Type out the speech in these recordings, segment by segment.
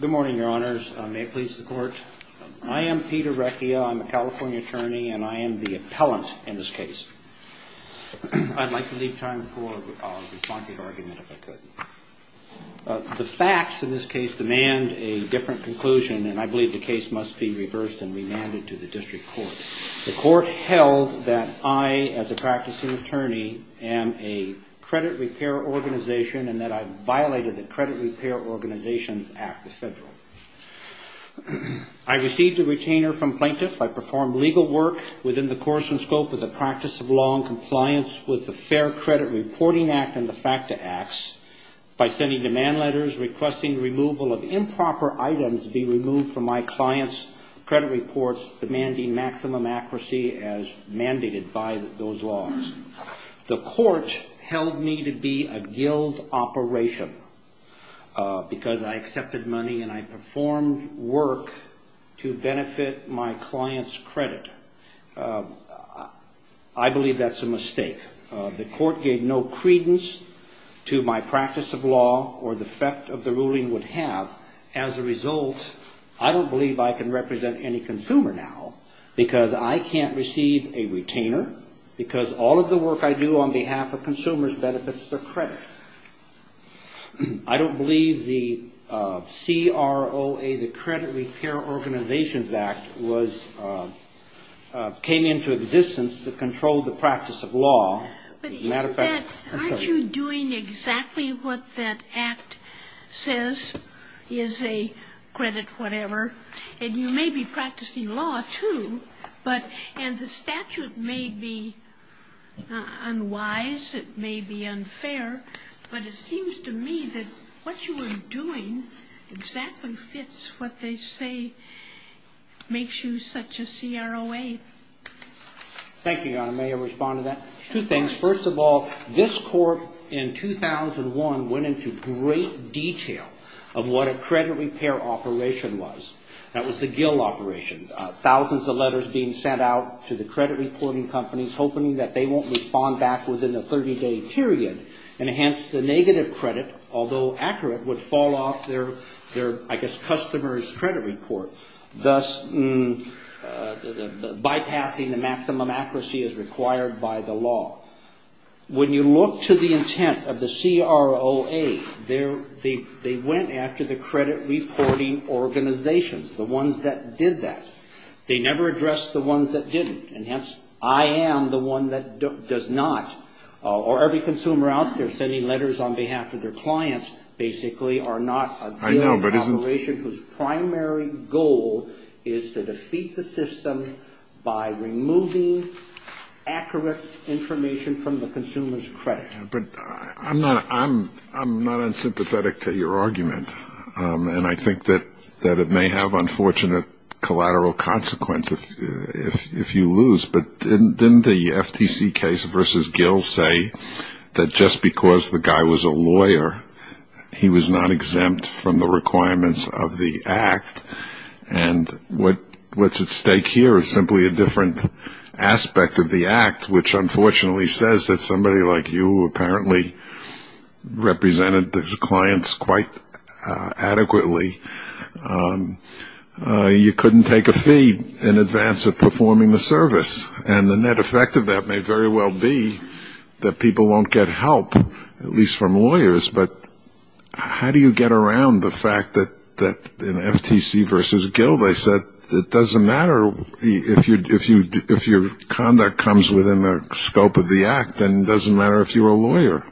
Good morning, Your Honors. May it please the Court. I am Peter Recchia. I'm a California attorney and I am the appellant in this case. I'd like to leave time for a response to the argument if I could. The facts in this case demand a different conclusion and I believe the case must be reversed and remanded to the District Court. The Court held that I, as a practicing attorney, am a credit repair organization and that I violated the Credit Repair Organizations Act of the Federal. I received a retainer from plaintiffs. I performed legal work within the course and scope of the practice of law in compliance with the Fair Credit Reporting Act and the FACTA Acts by sending demand letters requesting removal of improper items be removed from my clients' credit reports demanding maximum accuracy as mandated by those laws. The Court held me to be a guild operation because I accepted money and I performed work to benefit my clients' credit. I believe that's a mistake. The Court gave no credence to my practice of law or the effect of the ruling would have. As a matter of fact, I did not receive a retainer because all of the work I do on behalf of consumers benefits their credit. I don't believe the CROA, the Credit Repair Organizations Act, came into existence to control the practice of law. But isn't that, aren't you doing exactly what that Act says is a credit whatever? And you know, the statute may be unwise, it may be unfair, but it seems to me that what you are doing exactly fits what they say makes you such a CROA. Thank you, Your Honor. May I respond to that? Two things. First of all, this Court in 2001 went into great detail of what a credit repair operation was. That was the guild operation. Thousands of letters being sent out to the credit reporting companies hoping that they won't respond back within a 30-day period, and hence the negative credit, although accurate, would fall off their, I guess, customer's credit report, thus bypassing the maximum accuracy as required by the law. When you look to the intent of the CROA, they went after the credit reporting organizations, the ones that did that. They never addressed the ones that didn't, and hence, I am the one that does not. Or every consumer out there sending letters on behalf of their clients basically are not a guild operation whose primary goal is to defeat the system by removing accurate information from the consumer's credit. But I am not unsympathetic to your argument, and I think that it may have unfortunate collateral consequences if you lose. But didn't the FTC case versus Gill say that just because the guy was a lawyer, he was not exempt from the requirements of the Act, and what is at stake here is simply a different aspect of the Act, which unfortunately says that somebody like you, who apparently represented these clients quite adequately, you couldn't take a fee in advance of performing the service. And the net effect of that may very well be that people won't get help, at least from lawyers, but how do you get around the fact that in FTC versus Gill, they said it doesn't matter if your conduct comes within the scope of the Act unless you're a lawyer?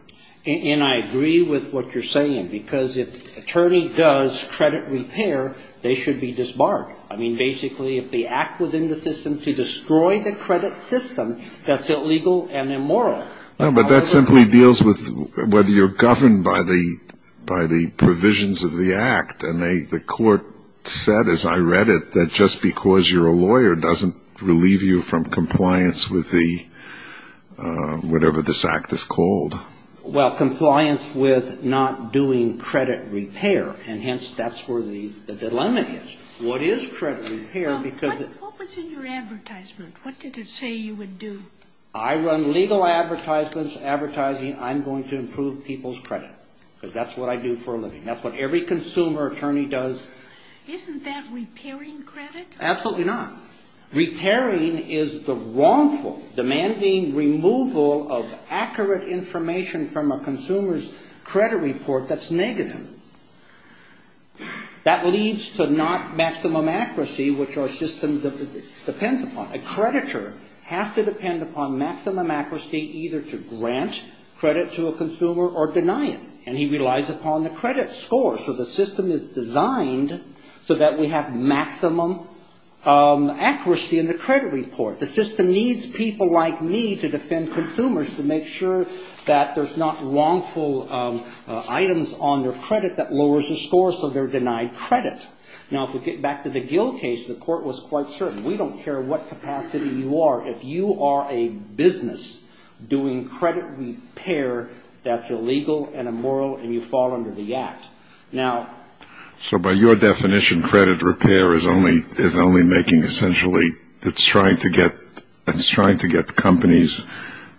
And I agree with what you're saying, because if an attorney does credit repair, they should be disbarred. I mean, basically, if they act within the system to destroy the credit system, that's illegal and immoral. No, but that simply deals with whether you're governed by the provisions of the Act. And the court said, as I read it, that just because you're a lawyer doesn't relieve you from compliance with the, whatever this Act is called. Well, compliance with not doing credit repair. And hence, that's where the dilemma is. What is credit repair? What was in your advertisement? What did it say you would do? I run legal advertisements advertising I'm going to improve people's credit, because that's what I do for a living. That's what every consumer attorney does. Isn't that repairing credit? Absolutely not. Repairing is the wrongful, demanding removal of accurate information from a consumer's credit report that's negative. That leads to not maximum accuracy, which our system depends upon. A creditor has to depend upon maximum accuracy either to grant credit to a consumer or deny it. And he relies upon the credit score. So the system is designed so that we have maximum accuracy in the credit report. The system needs people like me to defend consumers to make sure that there's not wrongful items on their credit that lowers the score so they're denied credit. Now, if we get back to the Gill case, the court was quite certain. We don't care what capacity you are. If you are a business doing credit repair, that's illegal and immoral and you fall under the Act. So by your definition, credit repair is only making, essentially, it's trying to get companies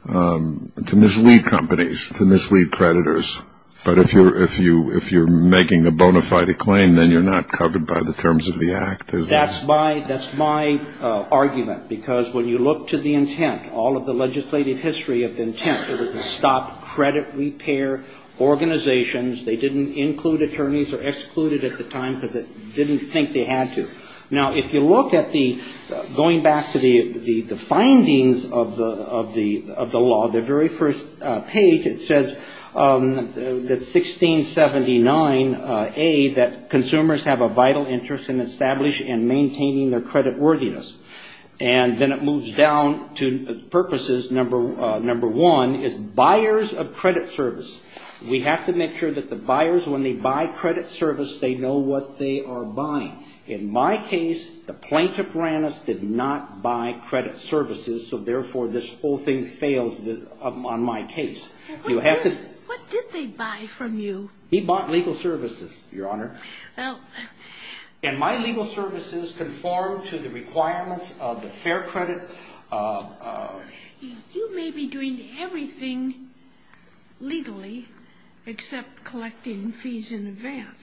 to mislead companies, to mislead creditors. But if you're making a bona fide claim, then you're not covered by the terms of the Act, is that right? That's my argument. Because when you look to the intent, all of the legislative history of the intent, it was to stop credit repair organizations. They didn't include attorneys or exclude it at the time because they didn't think they had to. Now, if you look at the, going back to the findings of the law, the very first page, it says that 1679A, that consumers have a vital interest in establishing and maintaining their creditworthiness. And then it moves down to purposes, number one, is buyers of credit service. We have to make sure that the buyers, when they buy credit service, they know what they are buying. In my case, the plaintiff ran us, did not buy credit services, so therefore this whole thing fails on my case. What did they buy from you? He bought legal services, Your Honor. And my legal services conform to the requirements of the fair credit. You may be doing everything legally except collecting fees in advance.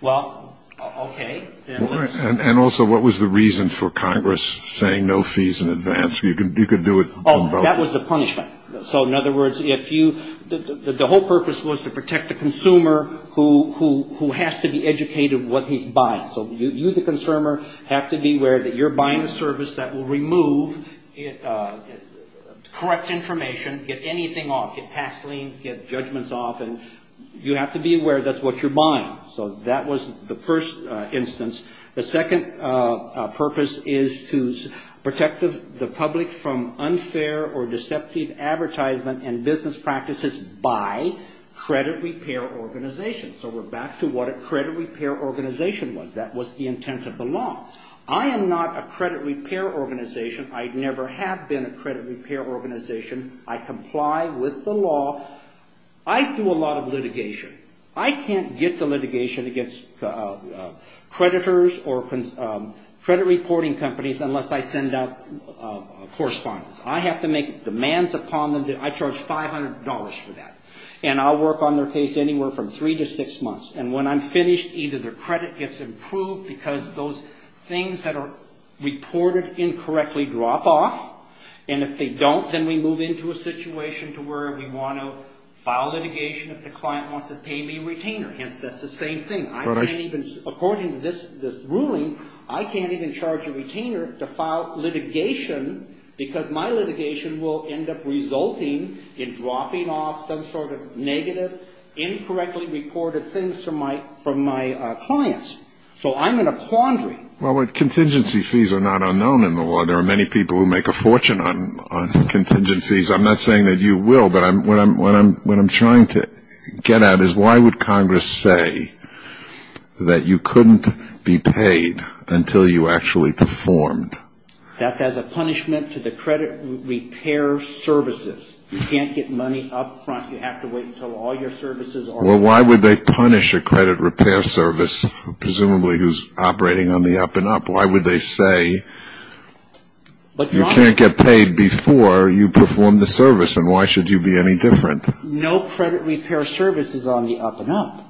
Well, okay. And also, what was the reason for Congress saying no fees in advance? You could do it on both. Oh, that was the punishment. So in other words, if you, the whole purpose was to protect the consumer who has to be educated what he's buying. So you, the consumer, have to be aware that you're buying a service that will remove correct information, get anything off, get tax liens, get judgments off, and you have to be aware that's what you're buying. So that was the first instance. The second purpose is to protect the public from unfair or deceptive advertisement and So we're back to what a credit repair organization was. That was the intent of the law. I am not a credit repair organization. I never have been a credit repair organization. I comply with the law. I do a lot of litigation. I can't get to litigation against creditors or credit reporting companies unless I send out correspondence. I have to make demands upon them. I charge $500 for that. And I'll work on their case anywhere from three to six months. And when I'm finished, either their credit gets improved because those things that are reported incorrectly drop off. And if they don't, then we move into a situation to where we want to file litigation if the client wants to pay me a retainer. Hence, that's the same thing. I can't even, according to this ruling, I can't even charge a retainer to file litigation because my litigation will end up resulting in dropping off some sort of negative, incorrectly reported things from my clients. So I'm in a quandary. Well, contingency fees are not unknown in the law. There are many people who make a fortune on contingency fees. I'm not saying that you will, but what I'm trying to get at is why would Congress say that you couldn't be paid until you actually performed? That's as a punishment to the credit repair services. You can't get money up front. You have to wait until all your services are up front. Well, why would they punish a credit repair service, presumably who's operating on the up and up? Why would they say you can't get paid before you perform the service? And why should you be any different? No credit repair service is on the up and up.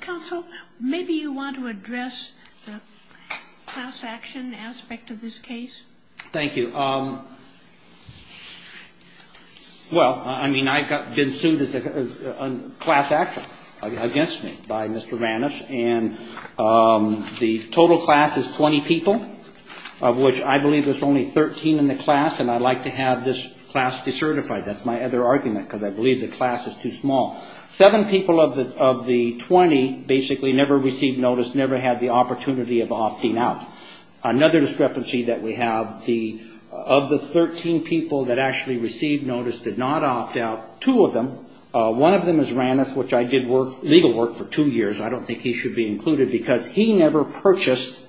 Counsel, maybe you want to address the class action aspect of this case. Thank you. Well, I mean, I've been sued as a class actor, against me, by Mr. Vannis. And the total class is 20 people, of which I believe there's only 13 in the class. And I'd like to have this class decertified. That's my other argument, because I believe the class is too small. Seven people of the 20 basically never received notice, never had the opportunity of opting out. Another discrepancy that we have, of the 13 people that actually received notice did not opt out, two of them. One of them is Vannis, which I did legal work for two years. I don't think he should be included, because he never purchased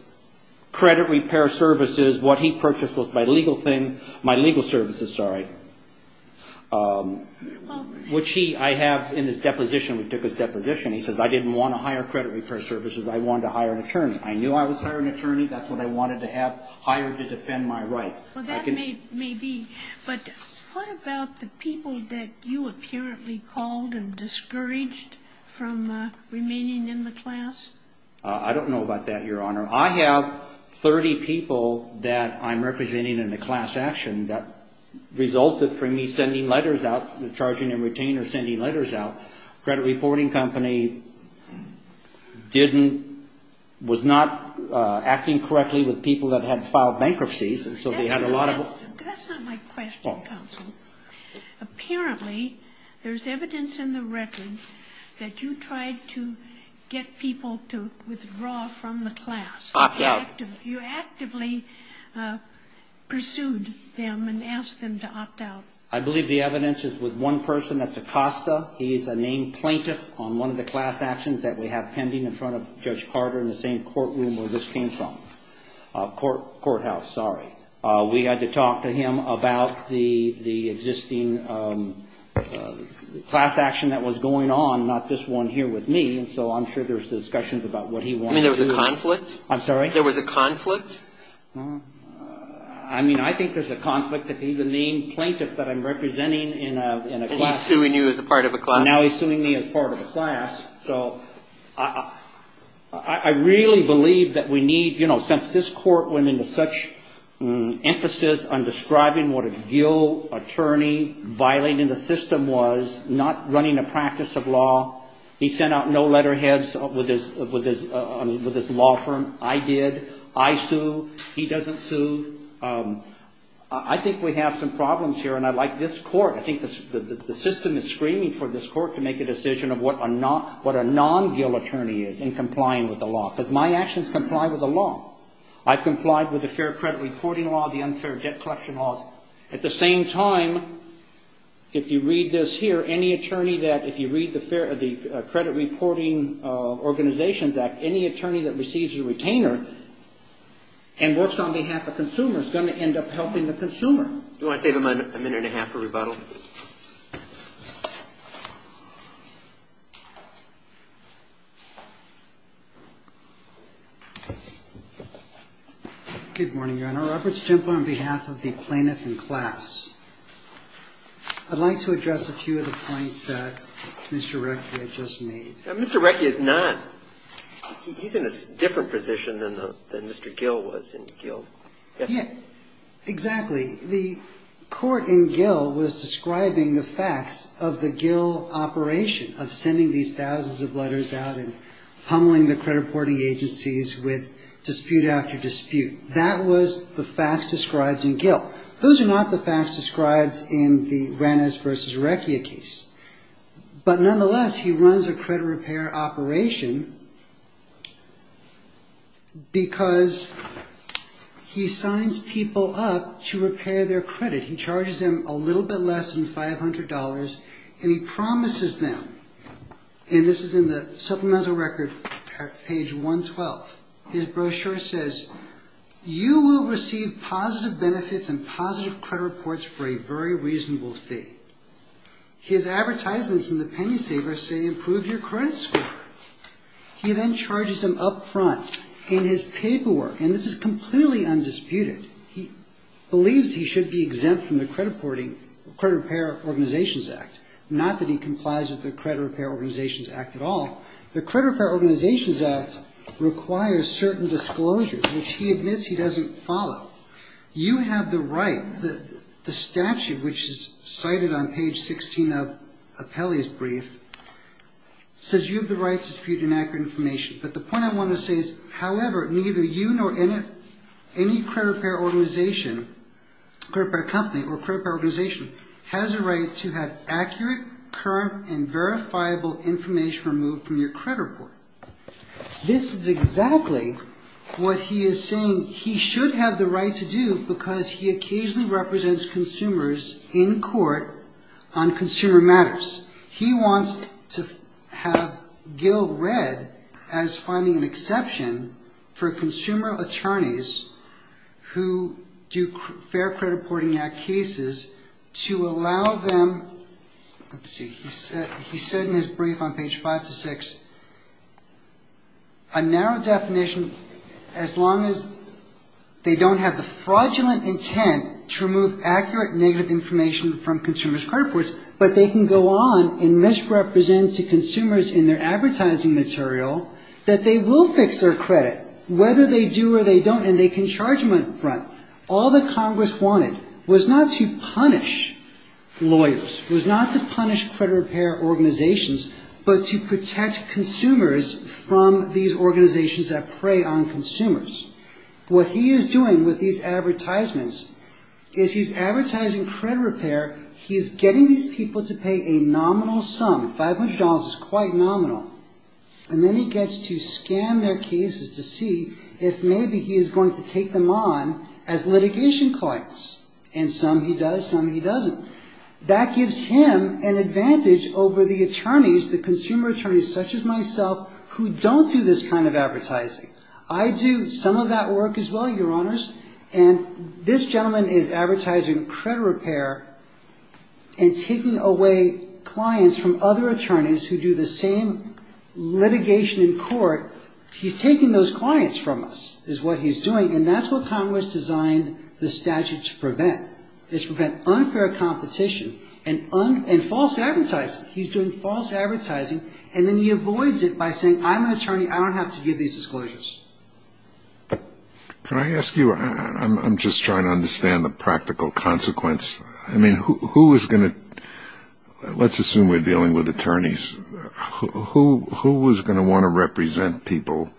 credit repair services. What he My legal services, sorry. Which he, I have in his deposition, we took his deposition, he says, I didn't want to hire credit repair services, I wanted to hire an attorney. I knew I was hiring an attorney, that's what I wanted to have hired to defend my rights. Well, that may be. But what about the people that you apparently called and discouraged from remaining in the class? I don't know about that, Your Honor. I have 30 people that I'm representing in the class action that resulted from me sending letters out, charging and retaining or sending letters out. Credit reporting company didn't, was not acting correctly with people that had filed bankruptcies. That's not my question, counsel. Apparently, there's evidence in the record that you tried to get people to withdraw from the class. Opt out. You actively pursued them and asked them to opt out. I believe the evidence is with one person, that's Acosta. He's a named plaintiff on one of the class actions that we have pending in front of Judge Carter in the same courtroom where this came from. Courthouse, sorry. We had to talk to him about the existing class action that was going on, not this one here with me. And so I'm sure there's discussions about what he wanted to do. I mean, there was a conflict? I'm sorry? There was a conflict? I mean, I think there's a conflict that he's a named plaintiff that I'm representing in a class. And he's suing you as a part of a class? Now he's suing me as part of a class. So I really believe that we need, you know, since this court went into such emphasis on describing what a guilt attorney violating the system was, not running a practice of law. He sent out no letterheads with his law firm. I did. I sue. He doesn't sue. I think we have some problems here. And I like this court. I think the system is screaming for this court to make a decision of what a non-guilt attorney is in complying with the law. Because my actions comply with the law. I've complied with the fair credit reporting law, the unfair debt collection laws. At the same time, if you read this here, any attorney that, if you read the credit reporting organizations act, any attorney that receives a retainer and works on behalf of a consumer is going to end up helping the consumer. Do you want to save him a minute and a half for rebuttal? Good morning, Your Honor. Robert Stemple on behalf of the plaintiff in class. I'd like to address a few of the points that Mr. Recchia just made. Mr. Recchia is not. He's in a different position than Mr. Gill was in Gill. Yeah, exactly. The court in Gill was describing the facts of the Gill operation of sending these thousands of letters out and pummeling the credit reporting agencies with dispute after dispute. That was the facts described in Gill. Those are not the facts described in the Ranez v. Recchia case. But nonetheless, he runs a credit repair operation because he signs people up to repair their credit. He charges them a little bit less than $500 and he promises them, and this is in the supplemental record, page 112. His brochure says, You will receive positive benefits and positive credit reports for a very reasonable fee. His advertisements in the penny saver say improve your credit score. He then charges them up front in his paperwork, and this is completely undisputed. He believes he should be exempt from the Credit Repair Organizations Act, not that he complies with the Credit Repair Organizations Act at all. The Credit Repair Organizations Act requires certain disclosures, which he admits he doesn't follow. You have the right. The statute, which is cited on page 16 of Peli's brief, says you have the right to dispute inaccurate information. But the point I want to say is, however, neither you nor any credit repair organization, credit repair company or organization, has the right to have accurate, current, and verifiable information removed from your credit report. This is exactly what he is saying he should have the right to do because he occasionally represents consumers in court on consumer matters. He wants to have Gil read as finding an exception for consumer attorneys who do Fair Credit Reporting Act cases to allow them, let's see, he said in his brief on page 5-6, a narrow definition as long as they don't have the fraudulent intent to remove accurate, negative information from consumers' credit reports, but they can go on and misrepresent to consumers in their advertising material that they will fix their credit, whether they do or they don't, and they can charge them up front. All that Congress wanted was not to punish lawyers, was not to punish credit repair organizations, but to protect consumers from these organizations that prey on consumers. What he is doing with these advertisements is he's advertising credit repair. He's getting these people to pay a nominal sum, $500 is quite nominal, and then he gets to scan their cases to see if maybe he is going to take them on as litigation clients, and some he does, some he doesn't. That gives him an advantage over the attorneys, the consumer attorneys such as myself who don't do this kind of advertising. I do some of that work as well, Your Honors, and this gentleman is advertising credit repair and taking away clients from other attorneys who do the same litigation in court. He's taking those clients from us is what he's doing, and that's what Congress designed the statute to prevent, is prevent unfair competition and false advertising. He's doing false advertising, and then he avoids it by saying I'm an attorney, I don't have to give these disclosures. Can I ask you, I'm just trying to understand the practical consequence. I mean, who is going to, let's assume we're dealing with attorneys, who is going to want to represent people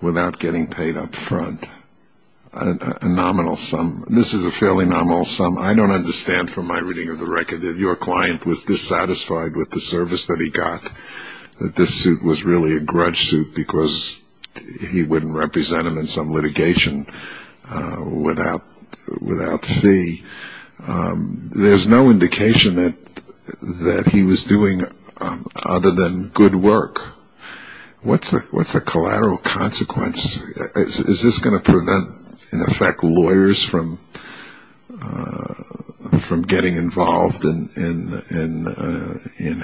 without getting paid up front? A nominal sum, this is a fairly nominal sum. I don't understand from my reading of the record that your client was dissatisfied with the service that he got, that this suit was really a grudge suit because he wouldn't represent him in some litigation without fee. There's no indication that he was doing other than good work. What's the collateral consequence? Is this going to prevent, in effect, lawyers from getting involved in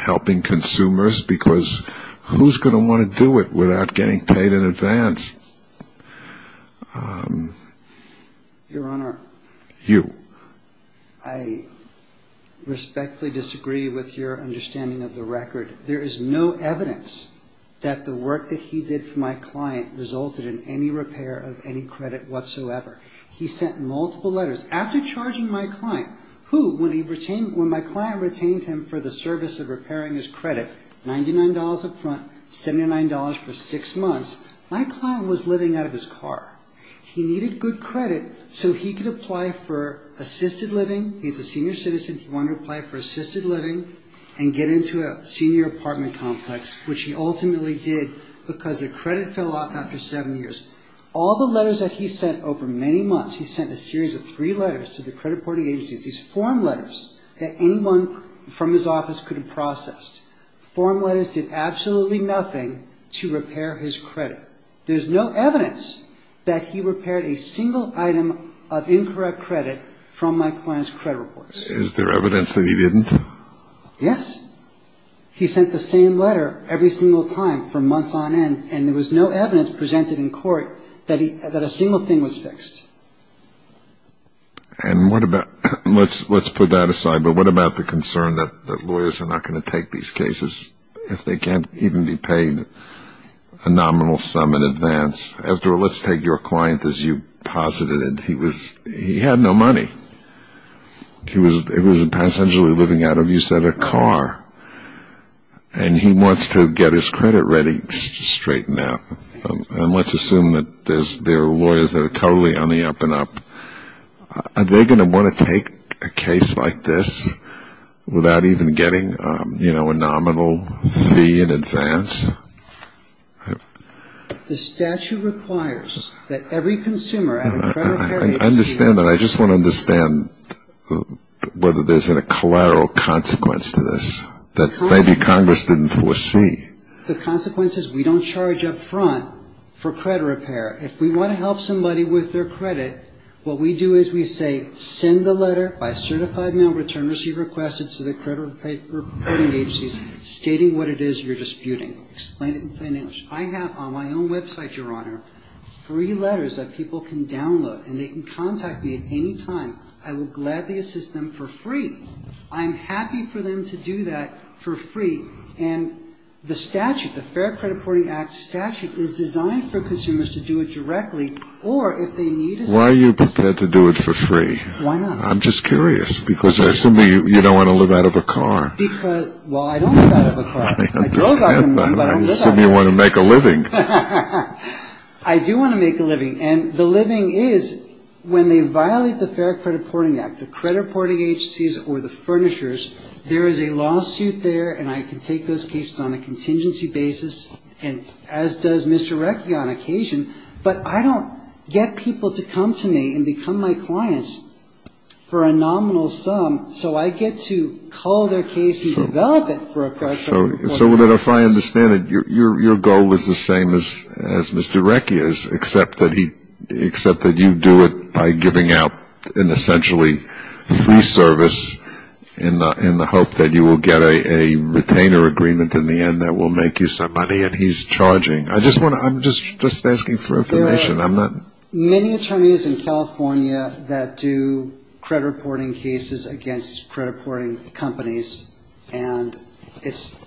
helping consumers? Because who's going to want to do it without getting paid in advance? Your Honor, I respectfully disagree with your understanding of the record. There is no evidence that the work that he did for my client resulted in any repair of any credit whatsoever. He sent multiple letters. After charging my client, who, when my client retained him for the service of repairing his credit, $99 up front, $79 for six months, my client was living out of his car. He needed good credit so he could apply for assisted living. He's a senior citizen. He wanted to apply for assisted living and get into a senior apartment complex, which he ultimately did because the credit fell off after seven years. All the letters that he sent over many months, he sent a series of three letters to the credit reporting agencies, these form letters that anyone from his office could have processed. Form letters did absolutely nothing to repair his credit. There's no evidence that he repaired a single item of incorrect credit from my client's credit reports. Is there evidence that he didn't? Yes. He sent the same letter every single time for months on end, and there was no evidence presented in court that a single thing was fixed. And what about, let's put that aside, but what about the concern that lawyers are not going to take these cases if they can't even be paid a nominal sum in advance? The statute requires that every consumer at a credit reporting agency I understand that. I just want to understand whether there's a collateral cost to that. The consequence is we don't charge up front for credit repair. If we want to help somebody with their credit, what we do is we say send the letter by certified mail return receipt requested to the credit reporting agencies, stating what it is you're disputing. Explain it in plain English. I have on my own website, Your Honor, free letters that people can download and they can contact me at any time. I will gladly assist them for free. I'm happy for them to do that for free. And the statute, the Fair Credit Reporting Act statute, is designed for consumers to do it directly or if they need assistance. Why are you prepared to do it for free? Why not? I'm just curious because I assume you don't want to live out of a car. I don't want to live out of a car. I assume you want to make a living. I do want to make a living. And the living is, when they violate the Fair Credit Reporting Act, the credit reporting agencies or the furnishers, there is a lawsuit there and I could take those cases on a contingency basis and as does Mr. Recchi on occasion. But I don't get people to come to me and become my clients for a nominal sum. So I get to call their case and develop it. So then if I understand it, your goal is the same as Mr. Recchi is, except that you do it by giving out an essentially free service in the hope that you will get a retainer agreement in the end that will make you some money and he's charging. I'm just asking for information. There are many attorneys in California that do credit reporting cases against credit reporting companies. And it's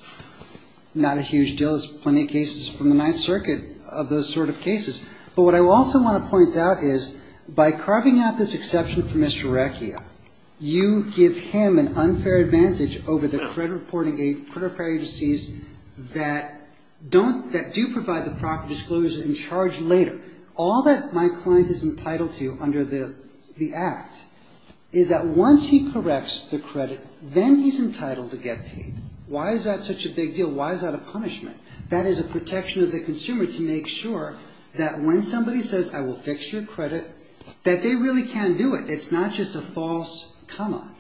not a huge deal. There's plenty of cases from the Ninth Circuit of those sort of cases. But what I also want to point out is by carving out this exception for Mr. Recchi, you give him an unfair advantage over the credit reporting agencies that do provide the property disclosure and charge later. All that my client is entitled to under the Act is that once he corrects the credit, then he's entitled to get paid. Why is that such a big deal? Why is that a punishment? That is a protection of the consumer to make sure that when somebody says, I will fix your credit, that they really can do it. It's not just a false come on.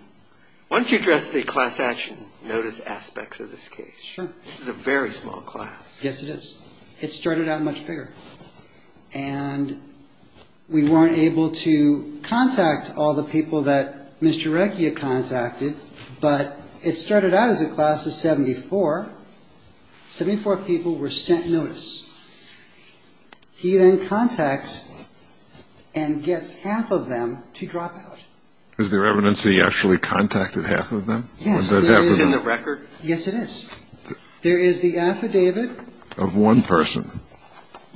Why don't you address the class action notice aspects of this case? Sure. This is a very small class. Yes, it is. It started out much bigger. And we weren't able to contact all the people that Mr. Recchi had contacted, but it started out as a class of 74. Seventy-four people were sent notice. He then contacts and gets half of them to drop out. Is there evidence that he actually contacted half of them? Yes, there is. Is it in the record? Yes, it is. There is the affidavit. Of one person.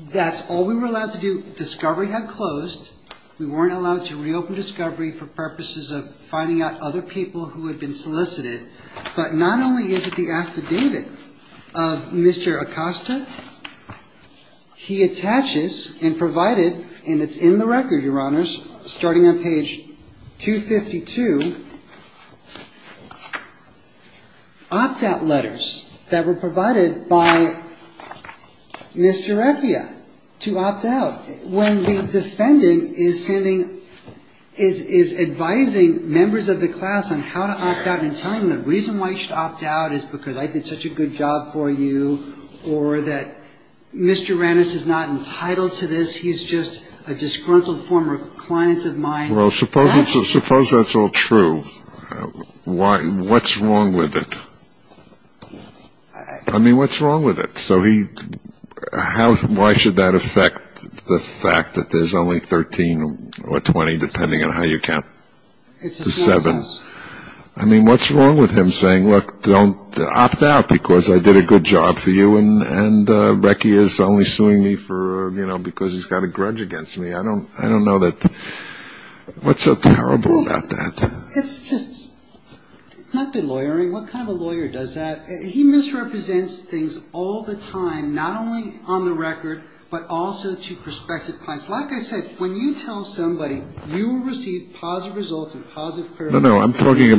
That's all we were allowed to do. Discovery had closed. We weren't allowed to reopen Discovery for purposes of finding out other people who had been solicited. But not only is it the affidavit of Mr. Acosta, he attaches and provided, and it's in the record, Your Honors, starting on page 252, opt-out letters that were provided by Mr. Recchia to opt out. When the defendant is advising members of the class on how to opt out and telling them, the reason why you should opt out is because I did such a good job for you, or that Mr. Rannis is not entitled to this. He's just a disgruntled former client of mine. Well, suppose that's all true. What's wrong with it? I mean, what's wrong with it? Why should that affect the fact that there's only 13 or 20, depending on how you count, to seven? I mean, what's wrong with him saying, look, opt out because I did a good job for you, and Recchia is only suing me because he's got a grudge against me? I don't know that. What's so terrible about that? It's just not good lawyering. What kind of a lawyer does that? He misrepresents things all the time, not only on the record, but also to prospective clients. Like I said, when you tell somebody, you will receive positive results and positive criticism. No, no, I'm talking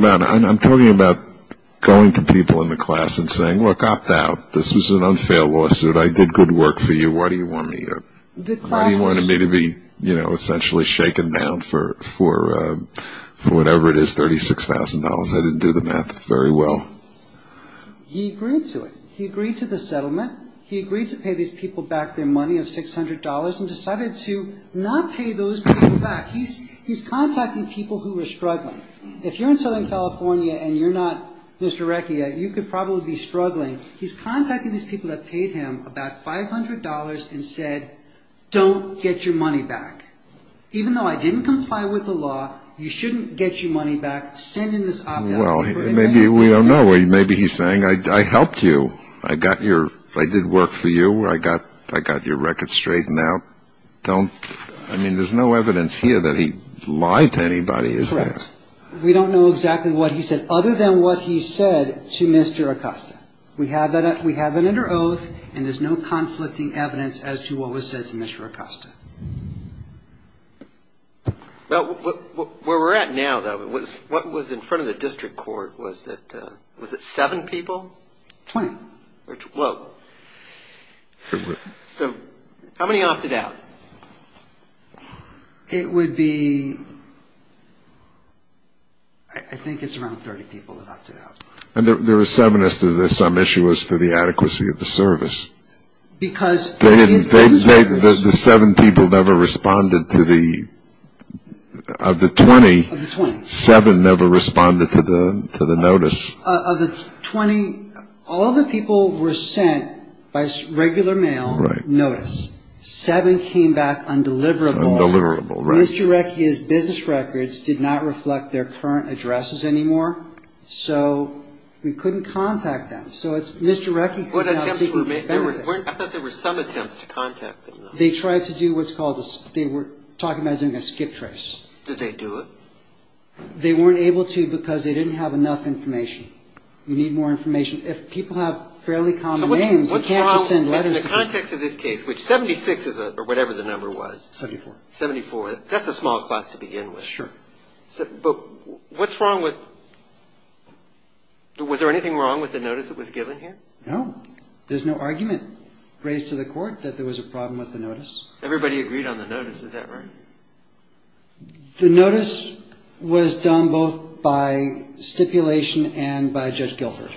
about going to people in the class and saying, look, opt out. This was an unfailed lawsuit. I did good work for you. Why do you want me to be essentially shaken down for whatever it is, $36,000? I didn't do the math very well. He agreed to it. He agreed to the settlement. He agreed to pay these people back their money of $600 and decided to not pay those people back. He's contacting people who are struggling. If you're in Southern California and you're not Mr. Recchia, you could probably be struggling. He's contacting these people that paid him about $500 and said, don't get your money back. Even though I didn't comply with the law, you shouldn't get your money back. Send in this opt out. Well, maybe we don't know. Maybe he's saying, I helped you. I got your – I did work for you. I got your record straightened out. Don't – I mean, there's no evidence here that he lied to anybody, is there? Correct. We don't know exactly what he said, other than what he said to Mr. Acosta. We have that under oath, and there's no conflicting evidence as to what was said to Mr. Acosta. Well, where we're at now, though, what was in front of the district court? Was it seven people? Twenty. Whoa. So how many opted out? It would be – I think it's around 30 people that opted out. And there were seven as to some issue as to the adequacy of the service. Because – The seven people never responded to the – of the 20. Of the 20. Seven never responded to the notice. Of the 20, all the people were sent by regular mail notice. Seven came back undeliverable. Undeliverable, right. Mr. Recchi's business records did not reflect their current addresses anymore. So we couldn't contact them. So it's – Mr. Recchi could not seek his benefit. I thought there were some attempts to contact them, though. They tried to do what's called a – they were talking about doing a skip trace. Did they do it? They weren't able to because they didn't have enough information. You need more information. If people have fairly common names, you can't just send letters. So what's wrong in the context of this case, which 76 is a – or whatever the number was. 74. 74. That's a small class to begin with. Sure. But what's wrong with – was there anything wrong with the notice that was given here? No. There's no argument raised to the court that there was a problem with the notice. Everybody agreed on the notice. Is that right? The notice was done both by stipulation and by Judge Gilford.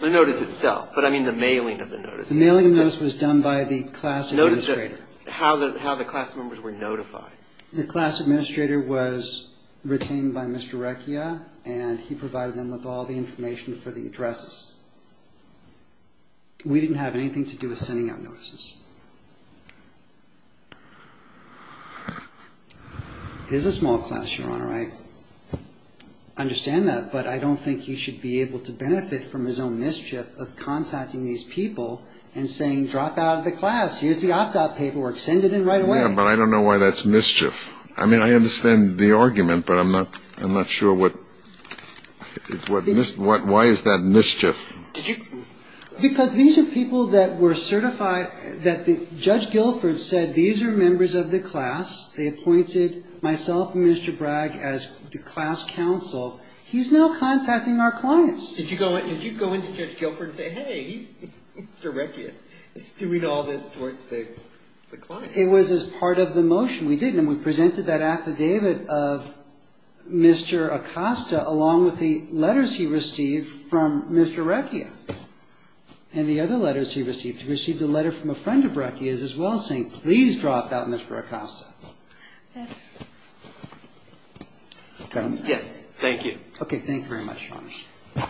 The notice itself, but I mean the mailing of the notice. The mailing of the notice was done by the class administrator. How the class members were notified. The class administrator was retained by Mr. Recchia, and he provided them with all the information for the addresses. We didn't have anything to do with sending out notices. It is a small class, Your Honor. I understand that. But I don't think he should be able to benefit from his own mischief of contacting these people and saying, drop out of the class, here's the opt-out paperwork, send it in right away. Yeah, but I don't know why that's mischief. I mean, I understand the argument, but I'm not sure what – why is that mischief? Because these are people that were certified that the – Judge Gilford said these are members of the class. They appointed myself and Mr. Bragg as the class counsel. He's now contacting our clients. Did you go in to Judge Gilford and say, hey, Mr. Recchia is doing all this towards the clients? It was as part of the motion. We did, and we presented that affidavit of Mr. Acosta along with the letters he received from Mr. Recchia. And the other letters he received, he received a letter from a friend of Recchia's as well, saying please drop out, Mr. Acosta. Yes, thank you. Okay, thank you very much, Ronnie.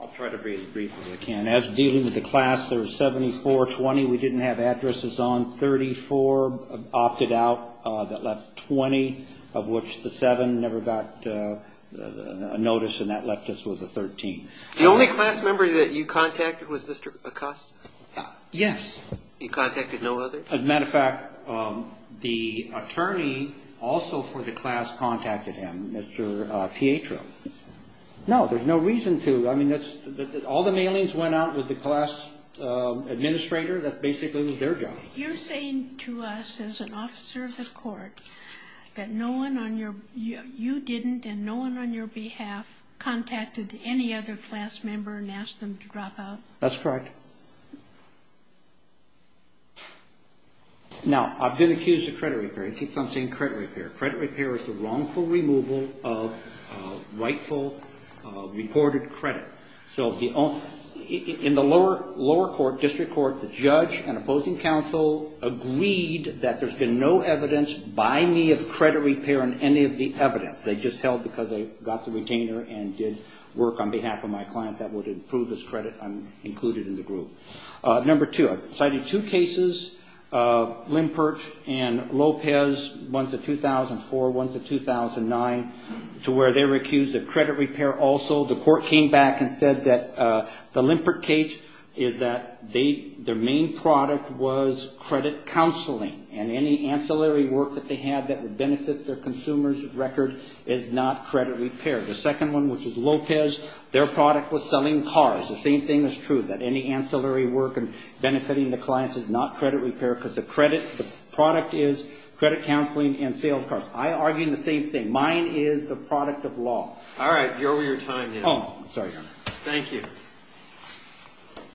I'll try to be as brief as I can. As dealing with the class, there was 7420. We didn't have addresses on. 34 opted out. That left 20, of which the 7 never got notice, and that left us with a 13. The only class member that you contacted was Mr. Acosta? Yes. You contacted no other? As a matter of fact, the attorney also for the class contacted him, Mr. Pietro. No, there's no reason to. I mean, all the mailings went out with the class administrator. That basically was their job. You're saying to us as an officer of the court that no one on your ñ you didn't, and no one on your behalf contacted any other class member and asked them to drop out? That's correct. Now, I've been accused of credit repair. It keeps on saying credit repair. Credit repair is the wrongful removal of rightful reported credit. So in the lower court, district court, the judge and opposing counsel agreed that there's been no evidence by me of credit repair in any of the evidence. They just held because I got the retainer and did work on behalf of my client that would improve this credit. I'm included in the group. Number two, I've cited two cases, Limpert and Lopez, ones of 2004, ones of 2009, to where they were accused of credit repair also. The court came back and said that the Limpert case is that their main product was credit counseling, and any ancillary work that they had that benefits their consumer's record is not credit repair. The second one, which is Lopez, their product was selling cars. The same thing is true, that any ancillary work and benefiting the clients is not credit repair because the product is credit counseling and sales cars. I argue the same thing. Mine is the product of law. All right. You're over your time now. Oh, I'm sorry, Your Honor. Thank you.